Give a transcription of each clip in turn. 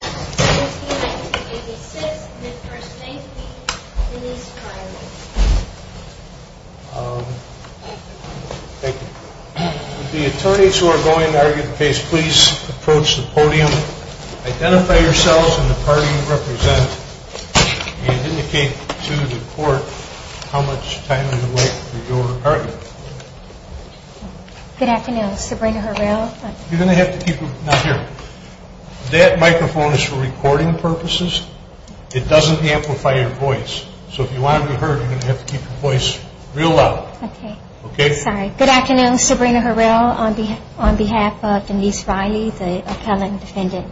With the attorneys who are going to argue the case, please approach the podium. Identify yourselves and the party you represent and indicate to the court how much time is left for your argument. Good afternoon, Sabrina Harrell. That microphone is for recording purposes. It doesn't amplify your voice. So if you want to be heard, you're going to have to keep your voice real loud. Good afternoon, Sabrina Harrell, on behalf of Denise Riley, the appellant defendant.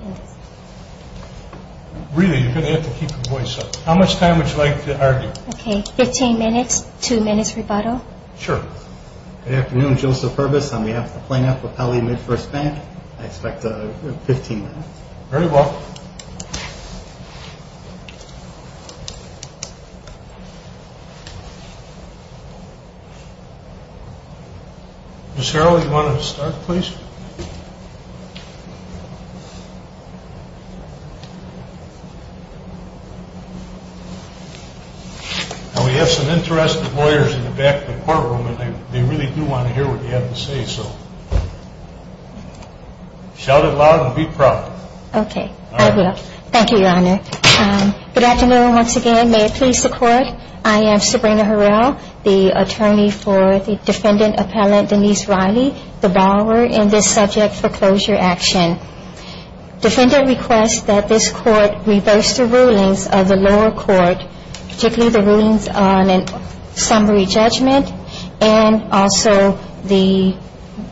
Really, you're going to have to keep your voice up. How much time would you like to argue? Fifteen minutes, two minutes rebuttal. Sure. Good afternoon, Joseph Herbis, on behalf of the plaintiff, Appellee Midfirst Bank. I expect fifteen minutes. Very well. Ms. Harrell, do you want to start, please? We have some interested lawyers in the back of the courtroom, and they really do want to hear what you have to say, so shout it loud and be proud. Okay, I will. Thank you, Your Honor. Good afternoon, once again. May it please the Court, I am Sabrina Harrell, the attorney for the defendant appellant Denise Riley, the borrower in this subject foreclosure action. Defendant requests that this Court reverse the rulings of the lower court, particularly the rulings on a summary judgment, and also the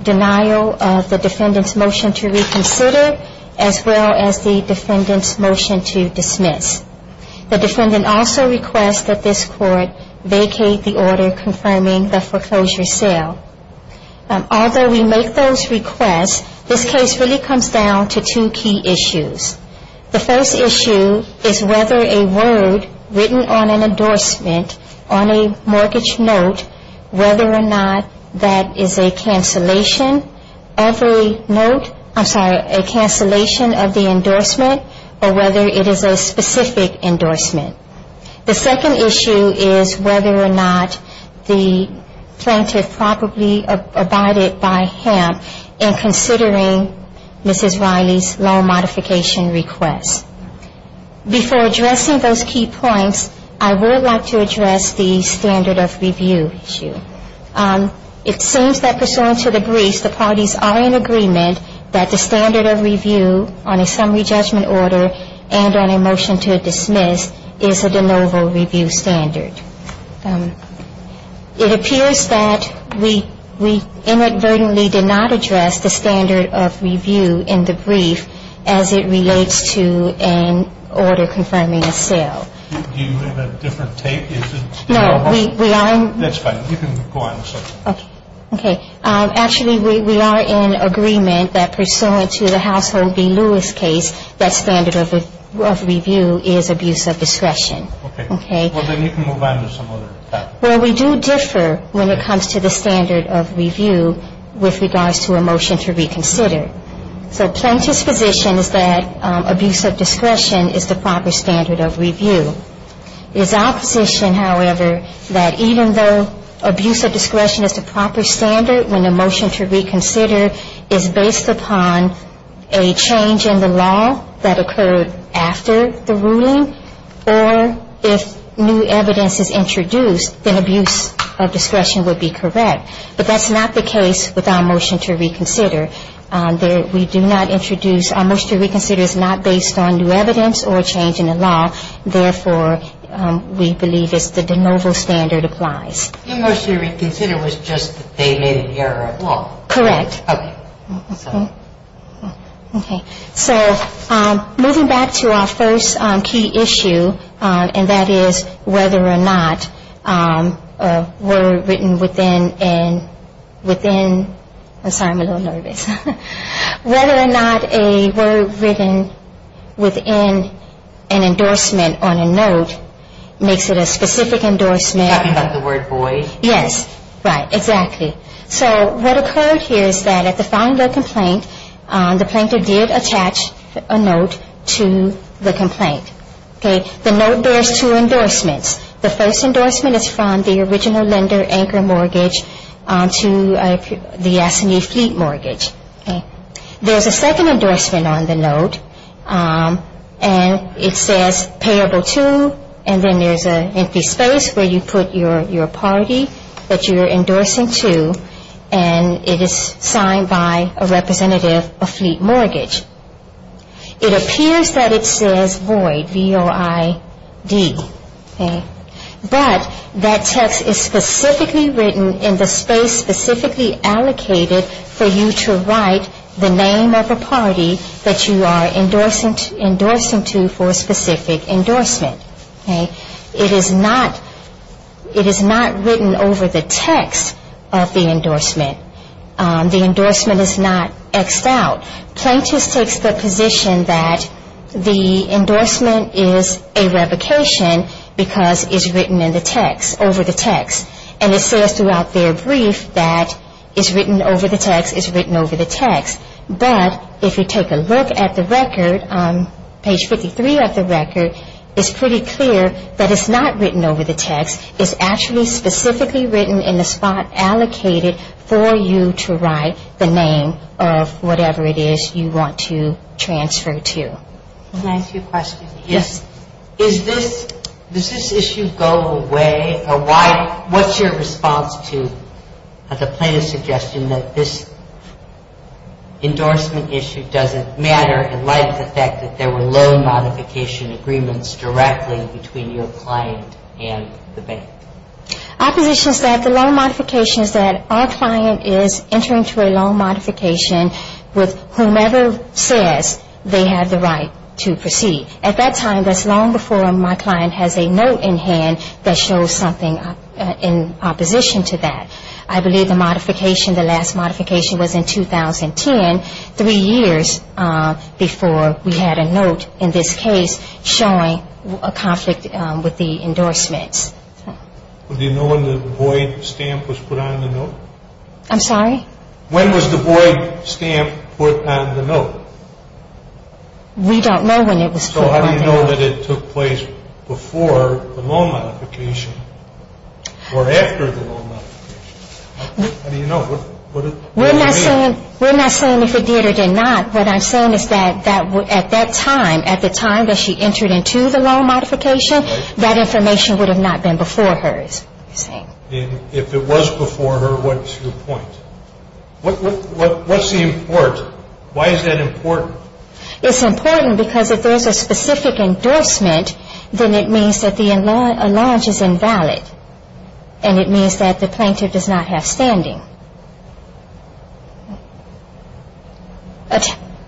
denial of the defendant's motion to reconsider, as well as the defendant's motion to dismiss. The defendant also requests that this Court vacate the order confirming the foreclosure sale. Although we make those requests, this case really comes down to two key issues. The first issue is whether a word written on an endorsement, on a mortgage note, whether or not that is a cancellation of the endorsement, or whether it is a specific endorsement. The second issue is whether or not the plaintiff probably abided by him in considering Mrs. Riley's loan modification request. Before addressing those key points, I would like to address the standard of review issue. It seems that pursuant to the briefs, the parties are in agreement that the standard of review on a summary judgment order and on a motion to dismiss is a de novo review standard. It appears that we inadvertently did not address the standard of review in the brief as it relates to an order confirming a sale. Do you have a different tape? No. That's fine. You can go on. Okay. Actually, we are in agreement that pursuant to the Household v. Lewis case, that standard of review is abuse of discretion. Okay. Well, then you can move on to some other topic. Well, we do differ when it comes to the standard of review with regards to a motion to reconsider. So plaintiff's position is that abuse of discretion is the proper standard of review. It is our position, however, that even though abuse of discretion is the proper standard when a motion to reconsider is based upon a change in the law that occurred after the ruling, or if new evidence is introduced, then abuse of discretion would be correct. But that's not the case with our motion to reconsider. We do not introduce – our motion to reconsider is not based on new evidence or a change in the law. Therefore, we believe it's the de novo standard applies. Your motion to reconsider was just that they made an error of law. Correct. Okay. Okay. So moving back to our first key issue, and that is whether or not a word written within – I'm sorry, I'm a little nervous. Whether or not a word written within an endorsement on a note makes it a specific endorsement. Are you talking about the word boy? Yes. Right. Exactly. So what occurred here is that at the filing of the complaint, the plaintiff did attach a note to the complaint. Okay. The note bears two endorsements. The first endorsement is from the original lender anchor mortgage to the Yassini fleet mortgage. Okay. There's a second endorsement on the note, and it says payable to, and then there's an empty space where you put your party that you're endorsing to, and it is signed by a representative of fleet mortgage. It appears that it says void, V-O-I-D. Okay. But that text is specifically written in the space specifically allocated for you to write the name of the party that you are endorsing to for a specific endorsement. Okay. It is not written over the text of the endorsement. The endorsement is not X'd out. Plaintiff takes the position that the endorsement is a revocation because it's written in the text, over the text, and it says throughout their brief that it's written over the text, it's written over the text. But if you take a look at the record, page 53 of the record, it's pretty clear that it's not written over the text. It's actually specifically written in the spot allocated for you to write the name of whatever it is you want to transfer to. Can I ask you a question? Yes. Does this issue go away? What's your response to the plaintiff's suggestion that this endorsement issue doesn't matter, in light of the fact that there were loan modification agreements directly between your client and the bank? Our position is that the loan modification is that our client is entering into a loan modification with whomever says they have the right to proceed. At that time, that's long before my client has a note in hand that shows something in opposition to that. I believe the modification, the last modification was in 2010, three years before we had a note in this case showing a conflict with the endorsements. Do you know when the Boyd stamp was put on the note? I'm sorry? When was the Boyd stamp put on the note? So how do you know that it took place before the loan modification or after the loan modification? How do you know? We're not saying if it did or did not. What I'm saying is that at that time, at the time that she entered into the loan modification, that information would have not been before hers. If it was before her, what's your point? What's the importance? Why is that important? It's important because if there's a specific endorsement, then it means that the enlarge is invalid. And it means that the plaintiff does not have standing.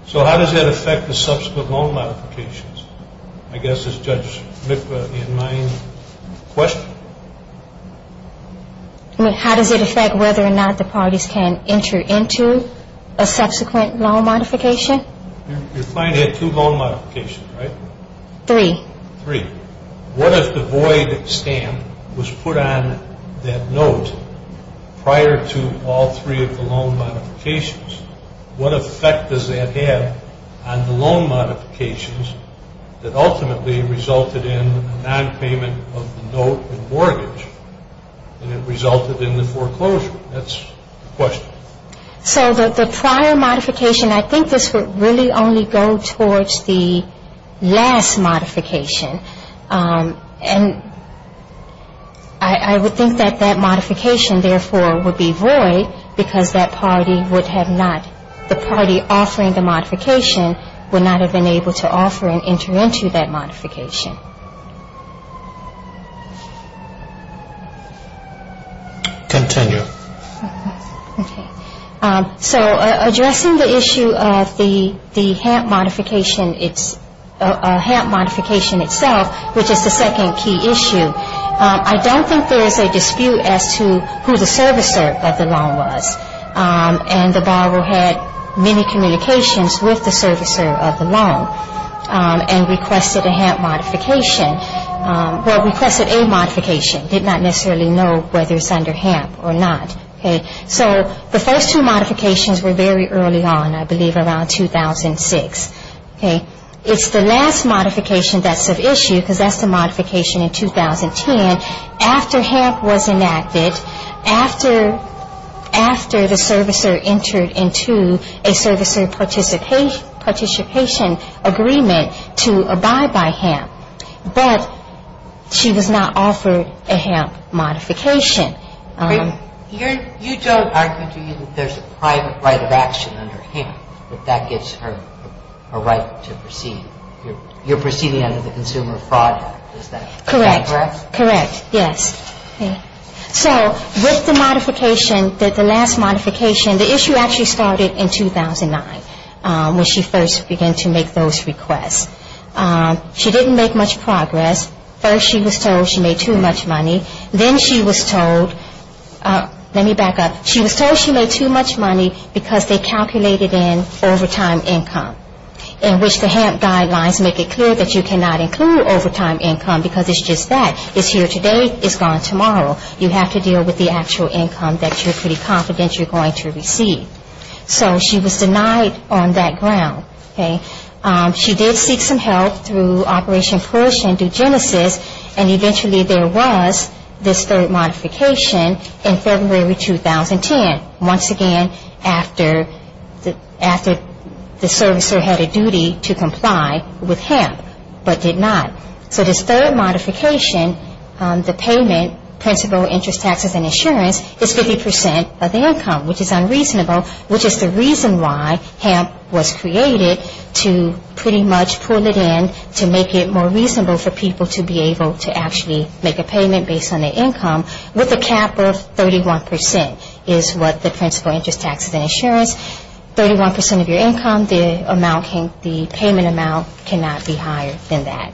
So how does that affect the subsequent loan modifications? I guess, as Judge Lipa, in my question. How does it affect whether or not the parties can enter into a subsequent loan modification? Your client had two loan modifications, right? Three. Three. What if the Boyd stamp was put on that note prior to all three of the loan modifications? What effect does that have on the loan modifications that ultimately resulted in a nonpayment of the note and mortgage? And it resulted in the foreclosure. That's the question. So the prior modification, I think this would really only go towards the last modification. And I would think that that modification, therefore, would be void because that party would have not, the party offering the modification would not have been able to offer and enter into that modification. Continue. Okay. So addressing the issue of the HAMP modification itself, which is the second key issue, I don't think there's a dispute as to who the servicer of the loan was. And the borrower had many communications with the servicer of the loan and requested a HAMP modification. Well, requested a modification. Did not necessarily know whether it's under HAMP or not. Okay. So the first two modifications were very early on, I believe around 2006. Okay. It's the last modification that's of issue because that's the modification in 2010 after HAMP was enacted, after the servicer entered into a servicer participation agreement to abide by HAMP. But she was not offered a HAMP modification. You don't argue that there's a private right of action under HAMP, that that gives her a right to proceed. You're proceeding under the Consumer Fraud Act. Is that correct? Correct. Correct. Yes. Okay. So with the modification, the last modification, the issue actually started in 2009 when she first began to make those requests. She didn't make much progress. First she was told she made too much money. Then she was told, let me back up, she was told she made too much money because they calculated in overtime income, in which the HAMP guidelines make it clear that you cannot include overtime income because it's just that. It's here today. It's gone tomorrow. You have to deal with the actual income that you're pretty confident you're going to receive. So she was denied on that ground. Okay. She did seek some help through Operation Push and do Genesis, and eventually there was this third modification in February 2010, once again after the servicer had a duty to comply with HAMP, but did not. So this third modification, the payment, principal, interest taxes, and insurance is 50 percent of the income, which is unreasonable, which is the reason why HAMP was created to pretty much pull it in to make it more reasonable for people to be able to actually make a payment based on their income, with a cap of 31 percent is what the principal, interest taxes, and insurance. 31 percent of your income, the payment amount cannot be higher than that.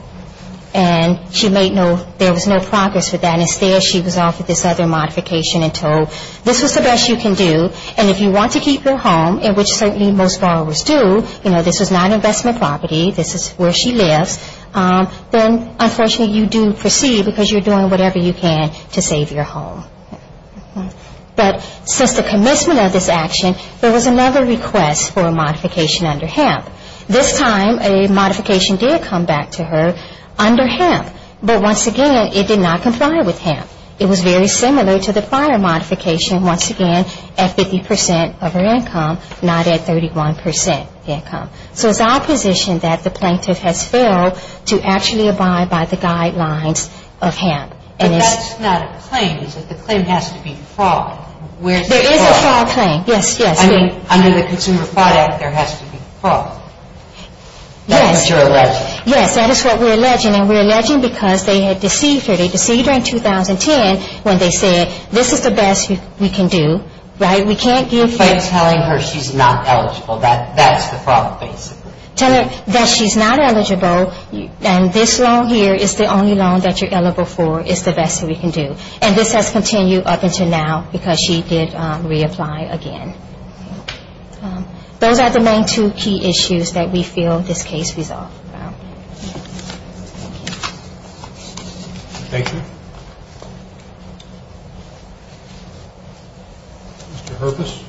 And she made no, there was no progress with that. Instead, she was offered this other modification and told, this is the best you can do, and if you want to keep your home, in which certainly most borrowers do, you know, this is not investment property. This is where she lives. Then, unfortunately, you do proceed because you're doing whatever you can to save your home. But since the commencement of this action, there was another request for a modification under HAMP. This time, a modification did come back to her under HAMP, but once again, it did not comply with HAMP. It was very similar to the fire modification, once again, at 50 percent of her income, not at 31 percent of the income. So it's our position that the plaintiff has failed to actually abide by the guidelines of HAMP. But that's not a claim, is it? The claim has to be fraud. There is a fraud claim, yes, yes. I mean, under the Consumer Fraud Act, there has to be fraud. Yes. That's what you're alleging. Yes, that is what we're alleging. And we're alleging because they had deceived her. They deceived her in 2010 when they said, this is the best we can do, right? We can't give you – By telling her she's not eligible. That's the fraud, basically. Tell her that she's not eligible, and this loan here is the only loan that you're eligible for. It's the best that we can do. And this has continued up until now because she did reapply again. Those are the main two key issues that we feel this case resolves around. Thank you. Thank you.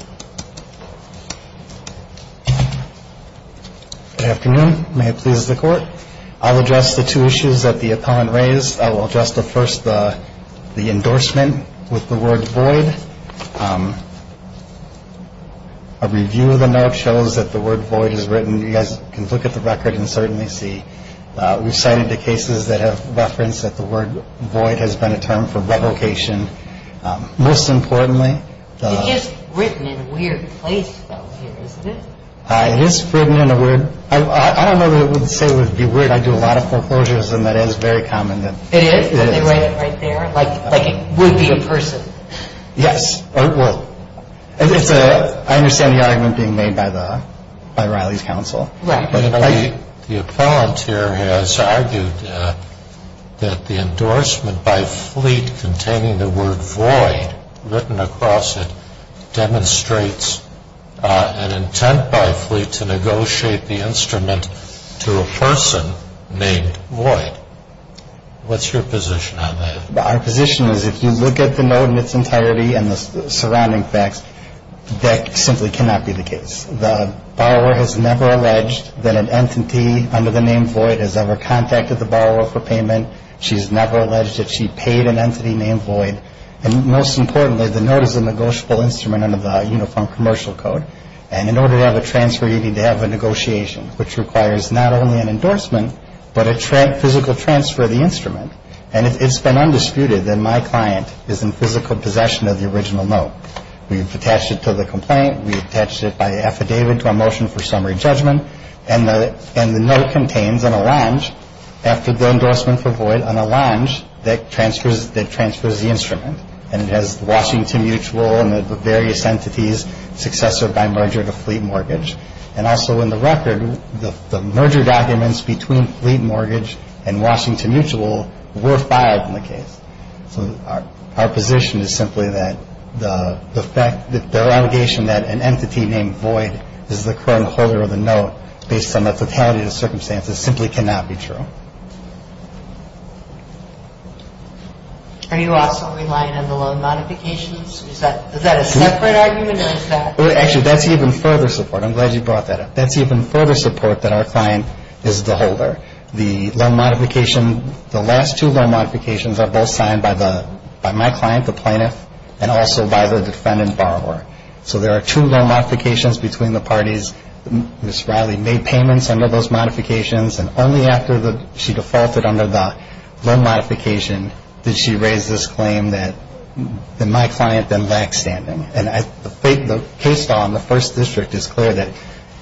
Good afternoon. May it please the Court. I'll address the two issues that the opponent raised. I will address the first, the endorsement with the word void. A review of the note shows that the word void is written. You guys can look at the record and certainly see. We've cited the cases that have referenced that the word void has been a term for revocation. Most importantly – It is written in a weird place, though, here, isn't it? It is written in a weird – I don't know that it would say it would be weird. I do a lot of foreclosures, and that is very common. It is? They write it right there? Like it would be a person? Yes. Well, I understand the argument being made by Riley's counsel. Right. The appellant here has argued that the endorsement by Fleet containing the word void written across it demonstrates an intent by Fleet to negotiate the instrument to a person named Void. What's your position on that? Our position is if you look at the note in its entirety and the surrounding facts, that simply cannot be the case. The borrower has never alleged that an entity under the name Void has ever contacted the borrower for payment. She's never alleged that she paid an entity named Void. And most importantly, the note is a negotiable instrument under the Uniform Commercial Code. And in order to have a transfer, you need to have a negotiation, which requires not only an endorsement but a physical transfer of the instrument. And if it's been undisputed, then my client is in physical possession of the original note. We've attached it to the complaint. We've attached it by affidavit to a motion for summary judgment. And the note contains an allonge after the endorsement for Void, an allonge that transfers the instrument. And it has Washington Mutual and the various entities successor by merger to Fleet Mortgage. And also in the record, the merger documents between Fleet Mortgage and Washington Mutual were filed in the case. So our position is simply that the allegation that an entity named Void is the current holder of the note, based on the totality of the circumstances, simply cannot be true. Are you also relying on the loan modifications? Is that a separate argument or is that? Actually, that's even further support. I'm glad you brought that up. That's even further support that our client is the holder. The loan modification, the last two loan modifications are both signed by my client, the plaintiff, and also by the defendant borrower. So there are two loan modifications between the parties. Ms. Riley made payments under those modifications. And only after she defaulted under the loan modification did she raise this claim that my client then lacks standing. And the case law in the First District is clear that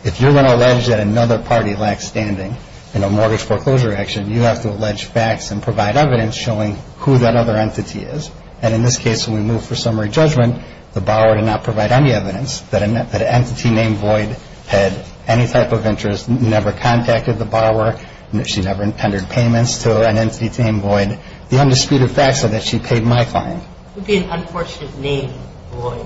if you're going to allege that another party lacks standing in a mortgage foreclosure action, you have to allege facts and provide evidence showing who that other entity is. And in this case, when we move for summary judgment, the borrower did not provide any evidence that an entity named Void had any type of interest, never contacted the borrower, she never intended payments to an entity named Void. The undisputed facts are that she paid my client. It would be an unfortunate name, Void.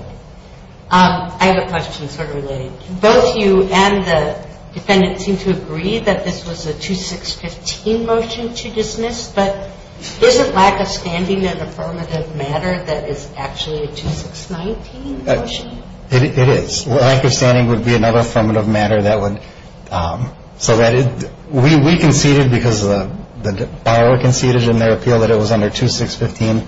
I have a question sort of related. Both you and the defendant seem to agree that this was a 2615 motion to dismiss, but isn't lack of standing an affirmative matter that is actually a 2619 motion? It is. Lack of standing would be another affirmative matter. We conceded because the borrower conceded in their appeal that it was under 2615.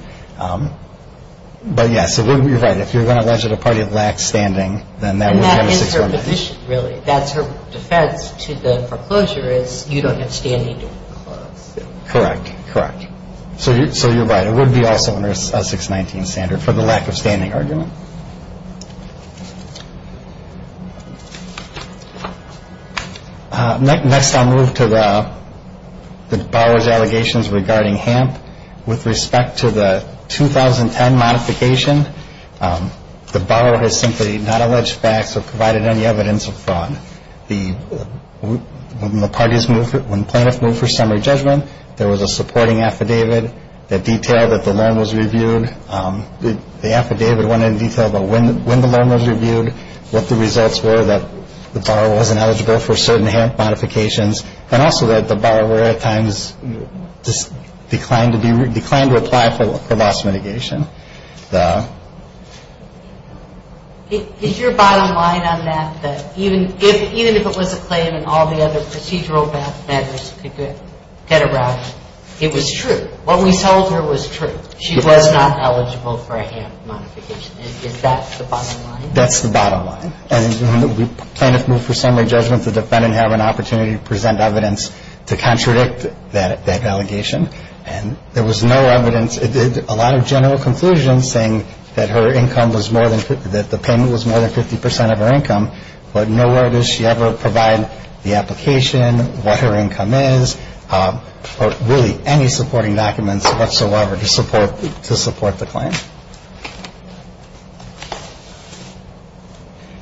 But, yes, you're right. If you're going to allege that a party lacks standing, then that would be under 619. And that is her position, really. That's her defense to the foreclosure is you don't have standing to disclose. Correct. Correct. So you're right. It would be also under a 619 standard for the lack of standing argument. Next I'll move to the borrower's allegations regarding HAMP. With respect to the 2010 modification, the borrower has simply not alleged facts or provided any evidence of fraud. When plaintiffs moved for summary judgment, there was a supporting affidavit that detailed that the loan was reviewed. The affidavit went into detail about when the loan was reviewed, what the results were that the borrower wasn't eligible for certain HAMP modifications, and also that the borrower at times declined to apply for loss mitigation. Is your bottom line on that that even if it was a claim and all the other procedural matters could get around it, it was true? What we told her was true. She was not eligible for a HAMP modification. Is that the bottom line? That's the bottom line. And when the plaintiff moved for summary judgment, the defendant had an opportunity to present evidence to contradict that allegation. And there was no evidence. It did a lot of general conclusions saying that the payment was more than 50 percent of her income, but nowhere does she ever provide the application, what her income is, or really any supporting documents whatsoever to support the claim.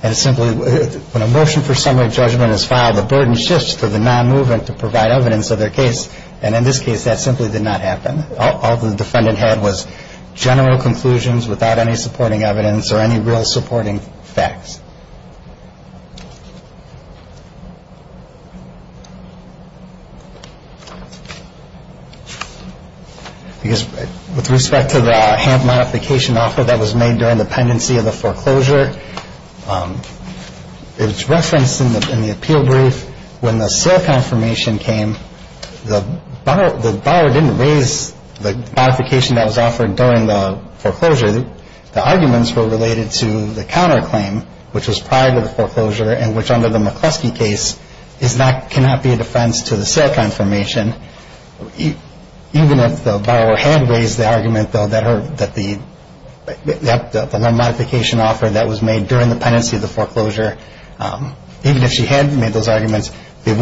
And it's simply when a motion for summary judgment is filed, the burden shifts to the non-movement to provide evidence of their case. And in this case, that simply did not happen. All the defendant had was general conclusions without any supporting evidence or any real supporting facts. With respect to the HAMP modification offer that was made during the pendency of the foreclosure, it was referenced in the appeal brief when the sale confirmation came, the borrower didn't raise the modification that was offered during the foreclosure. The arguments were related to the counterclaim, which was prior to the foreclosure, and which under the McCluskey case cannot be a defense to the sale confirmation. Even if the borrower had raised the argument, though, that the modification offer that was made during the pendency of the foreclosure, even if she had made those arguments, they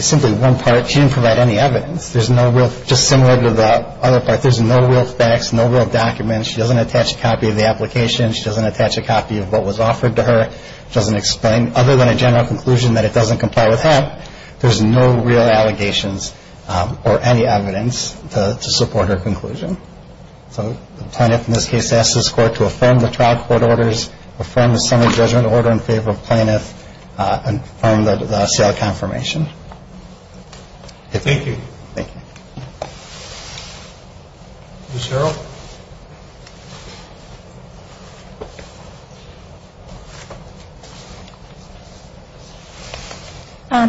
simply weren't part. She didn't provide any evidence. Just similar to the other part, there's no real facts, no real documents. She doesn't attach a copy of the application. She doesn't attach a copy of what was offered to her. It doesn't explain, other than a general conclusion, that it doesn't comply with HAMP. There's no real allegations or any evidence to support her conclusion. So the plaintiff in this case asks this Court to affirm the trial court orders, affirm the summary judgment order in favor of plaintiff, and affirm the sale confirmation. Thank you. Thank you. Ms. Harrell?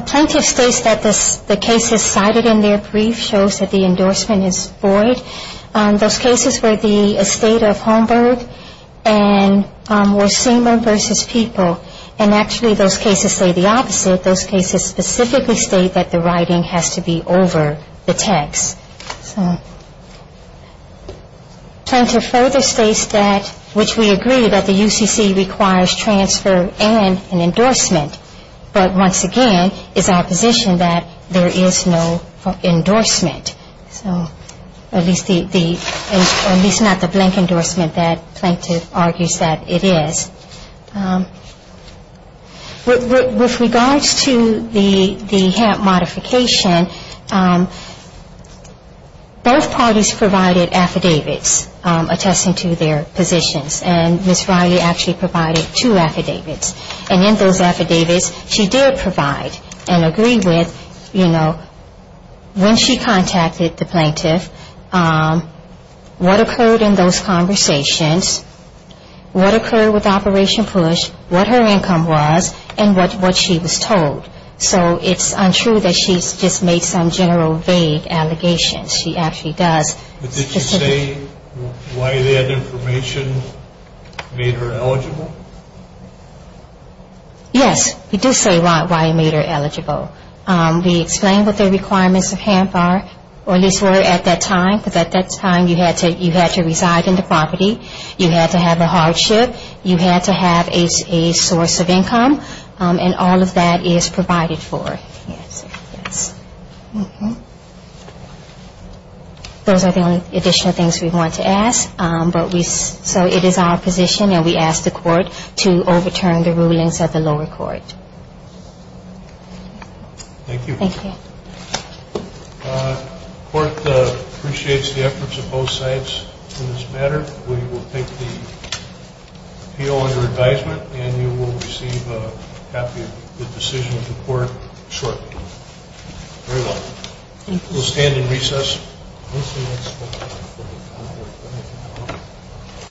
Plaintiff states that the cases cited in their brief shows that the endorsement is void. Those cases were the estate of Holmberg and were seamen versus people. And actually those cases say the opposite. Those cases specifically state that the writing has to be over the text. Plaintiff further states that, which we agree, that the UCC requires transfer and an endorsement. But once again, it's our position that there is no endorsement. So at least not the blank endorsement that plaintiff argues that it is. With regards to the HAMP modification, both parties provided affidavits attesting to their positions. And Ms. Riley actually provided two affidavits. And in those affidavits, she did provide and agree with, you know, when she contacted the plaintiff, what occurred in those conversations, what occurred with Operation PUSH, what her income was, and what she was told. So it's untrue that she just made some general vague allegations. She actually does. But did you say why that information made her eligible? Yes, we do say why it made her eligible. We explain what the requirements of HAMP are, or at least were at that time. Because at that time, you had to reside in the property. You had to have a hardship. You had to have a source of income. And all of that is provided for. Those are the only additional things we want to ask. So it is our position, and we ask the court to overturn the rulings of the lower court. Thank you. Thank you. The court appreciates the efforts of both sides in this matter. We will take the appeal under advisement, and you will receive a copy of the decision of the court shortly. Very well. Thank you. We'll stand in recess. Thank you.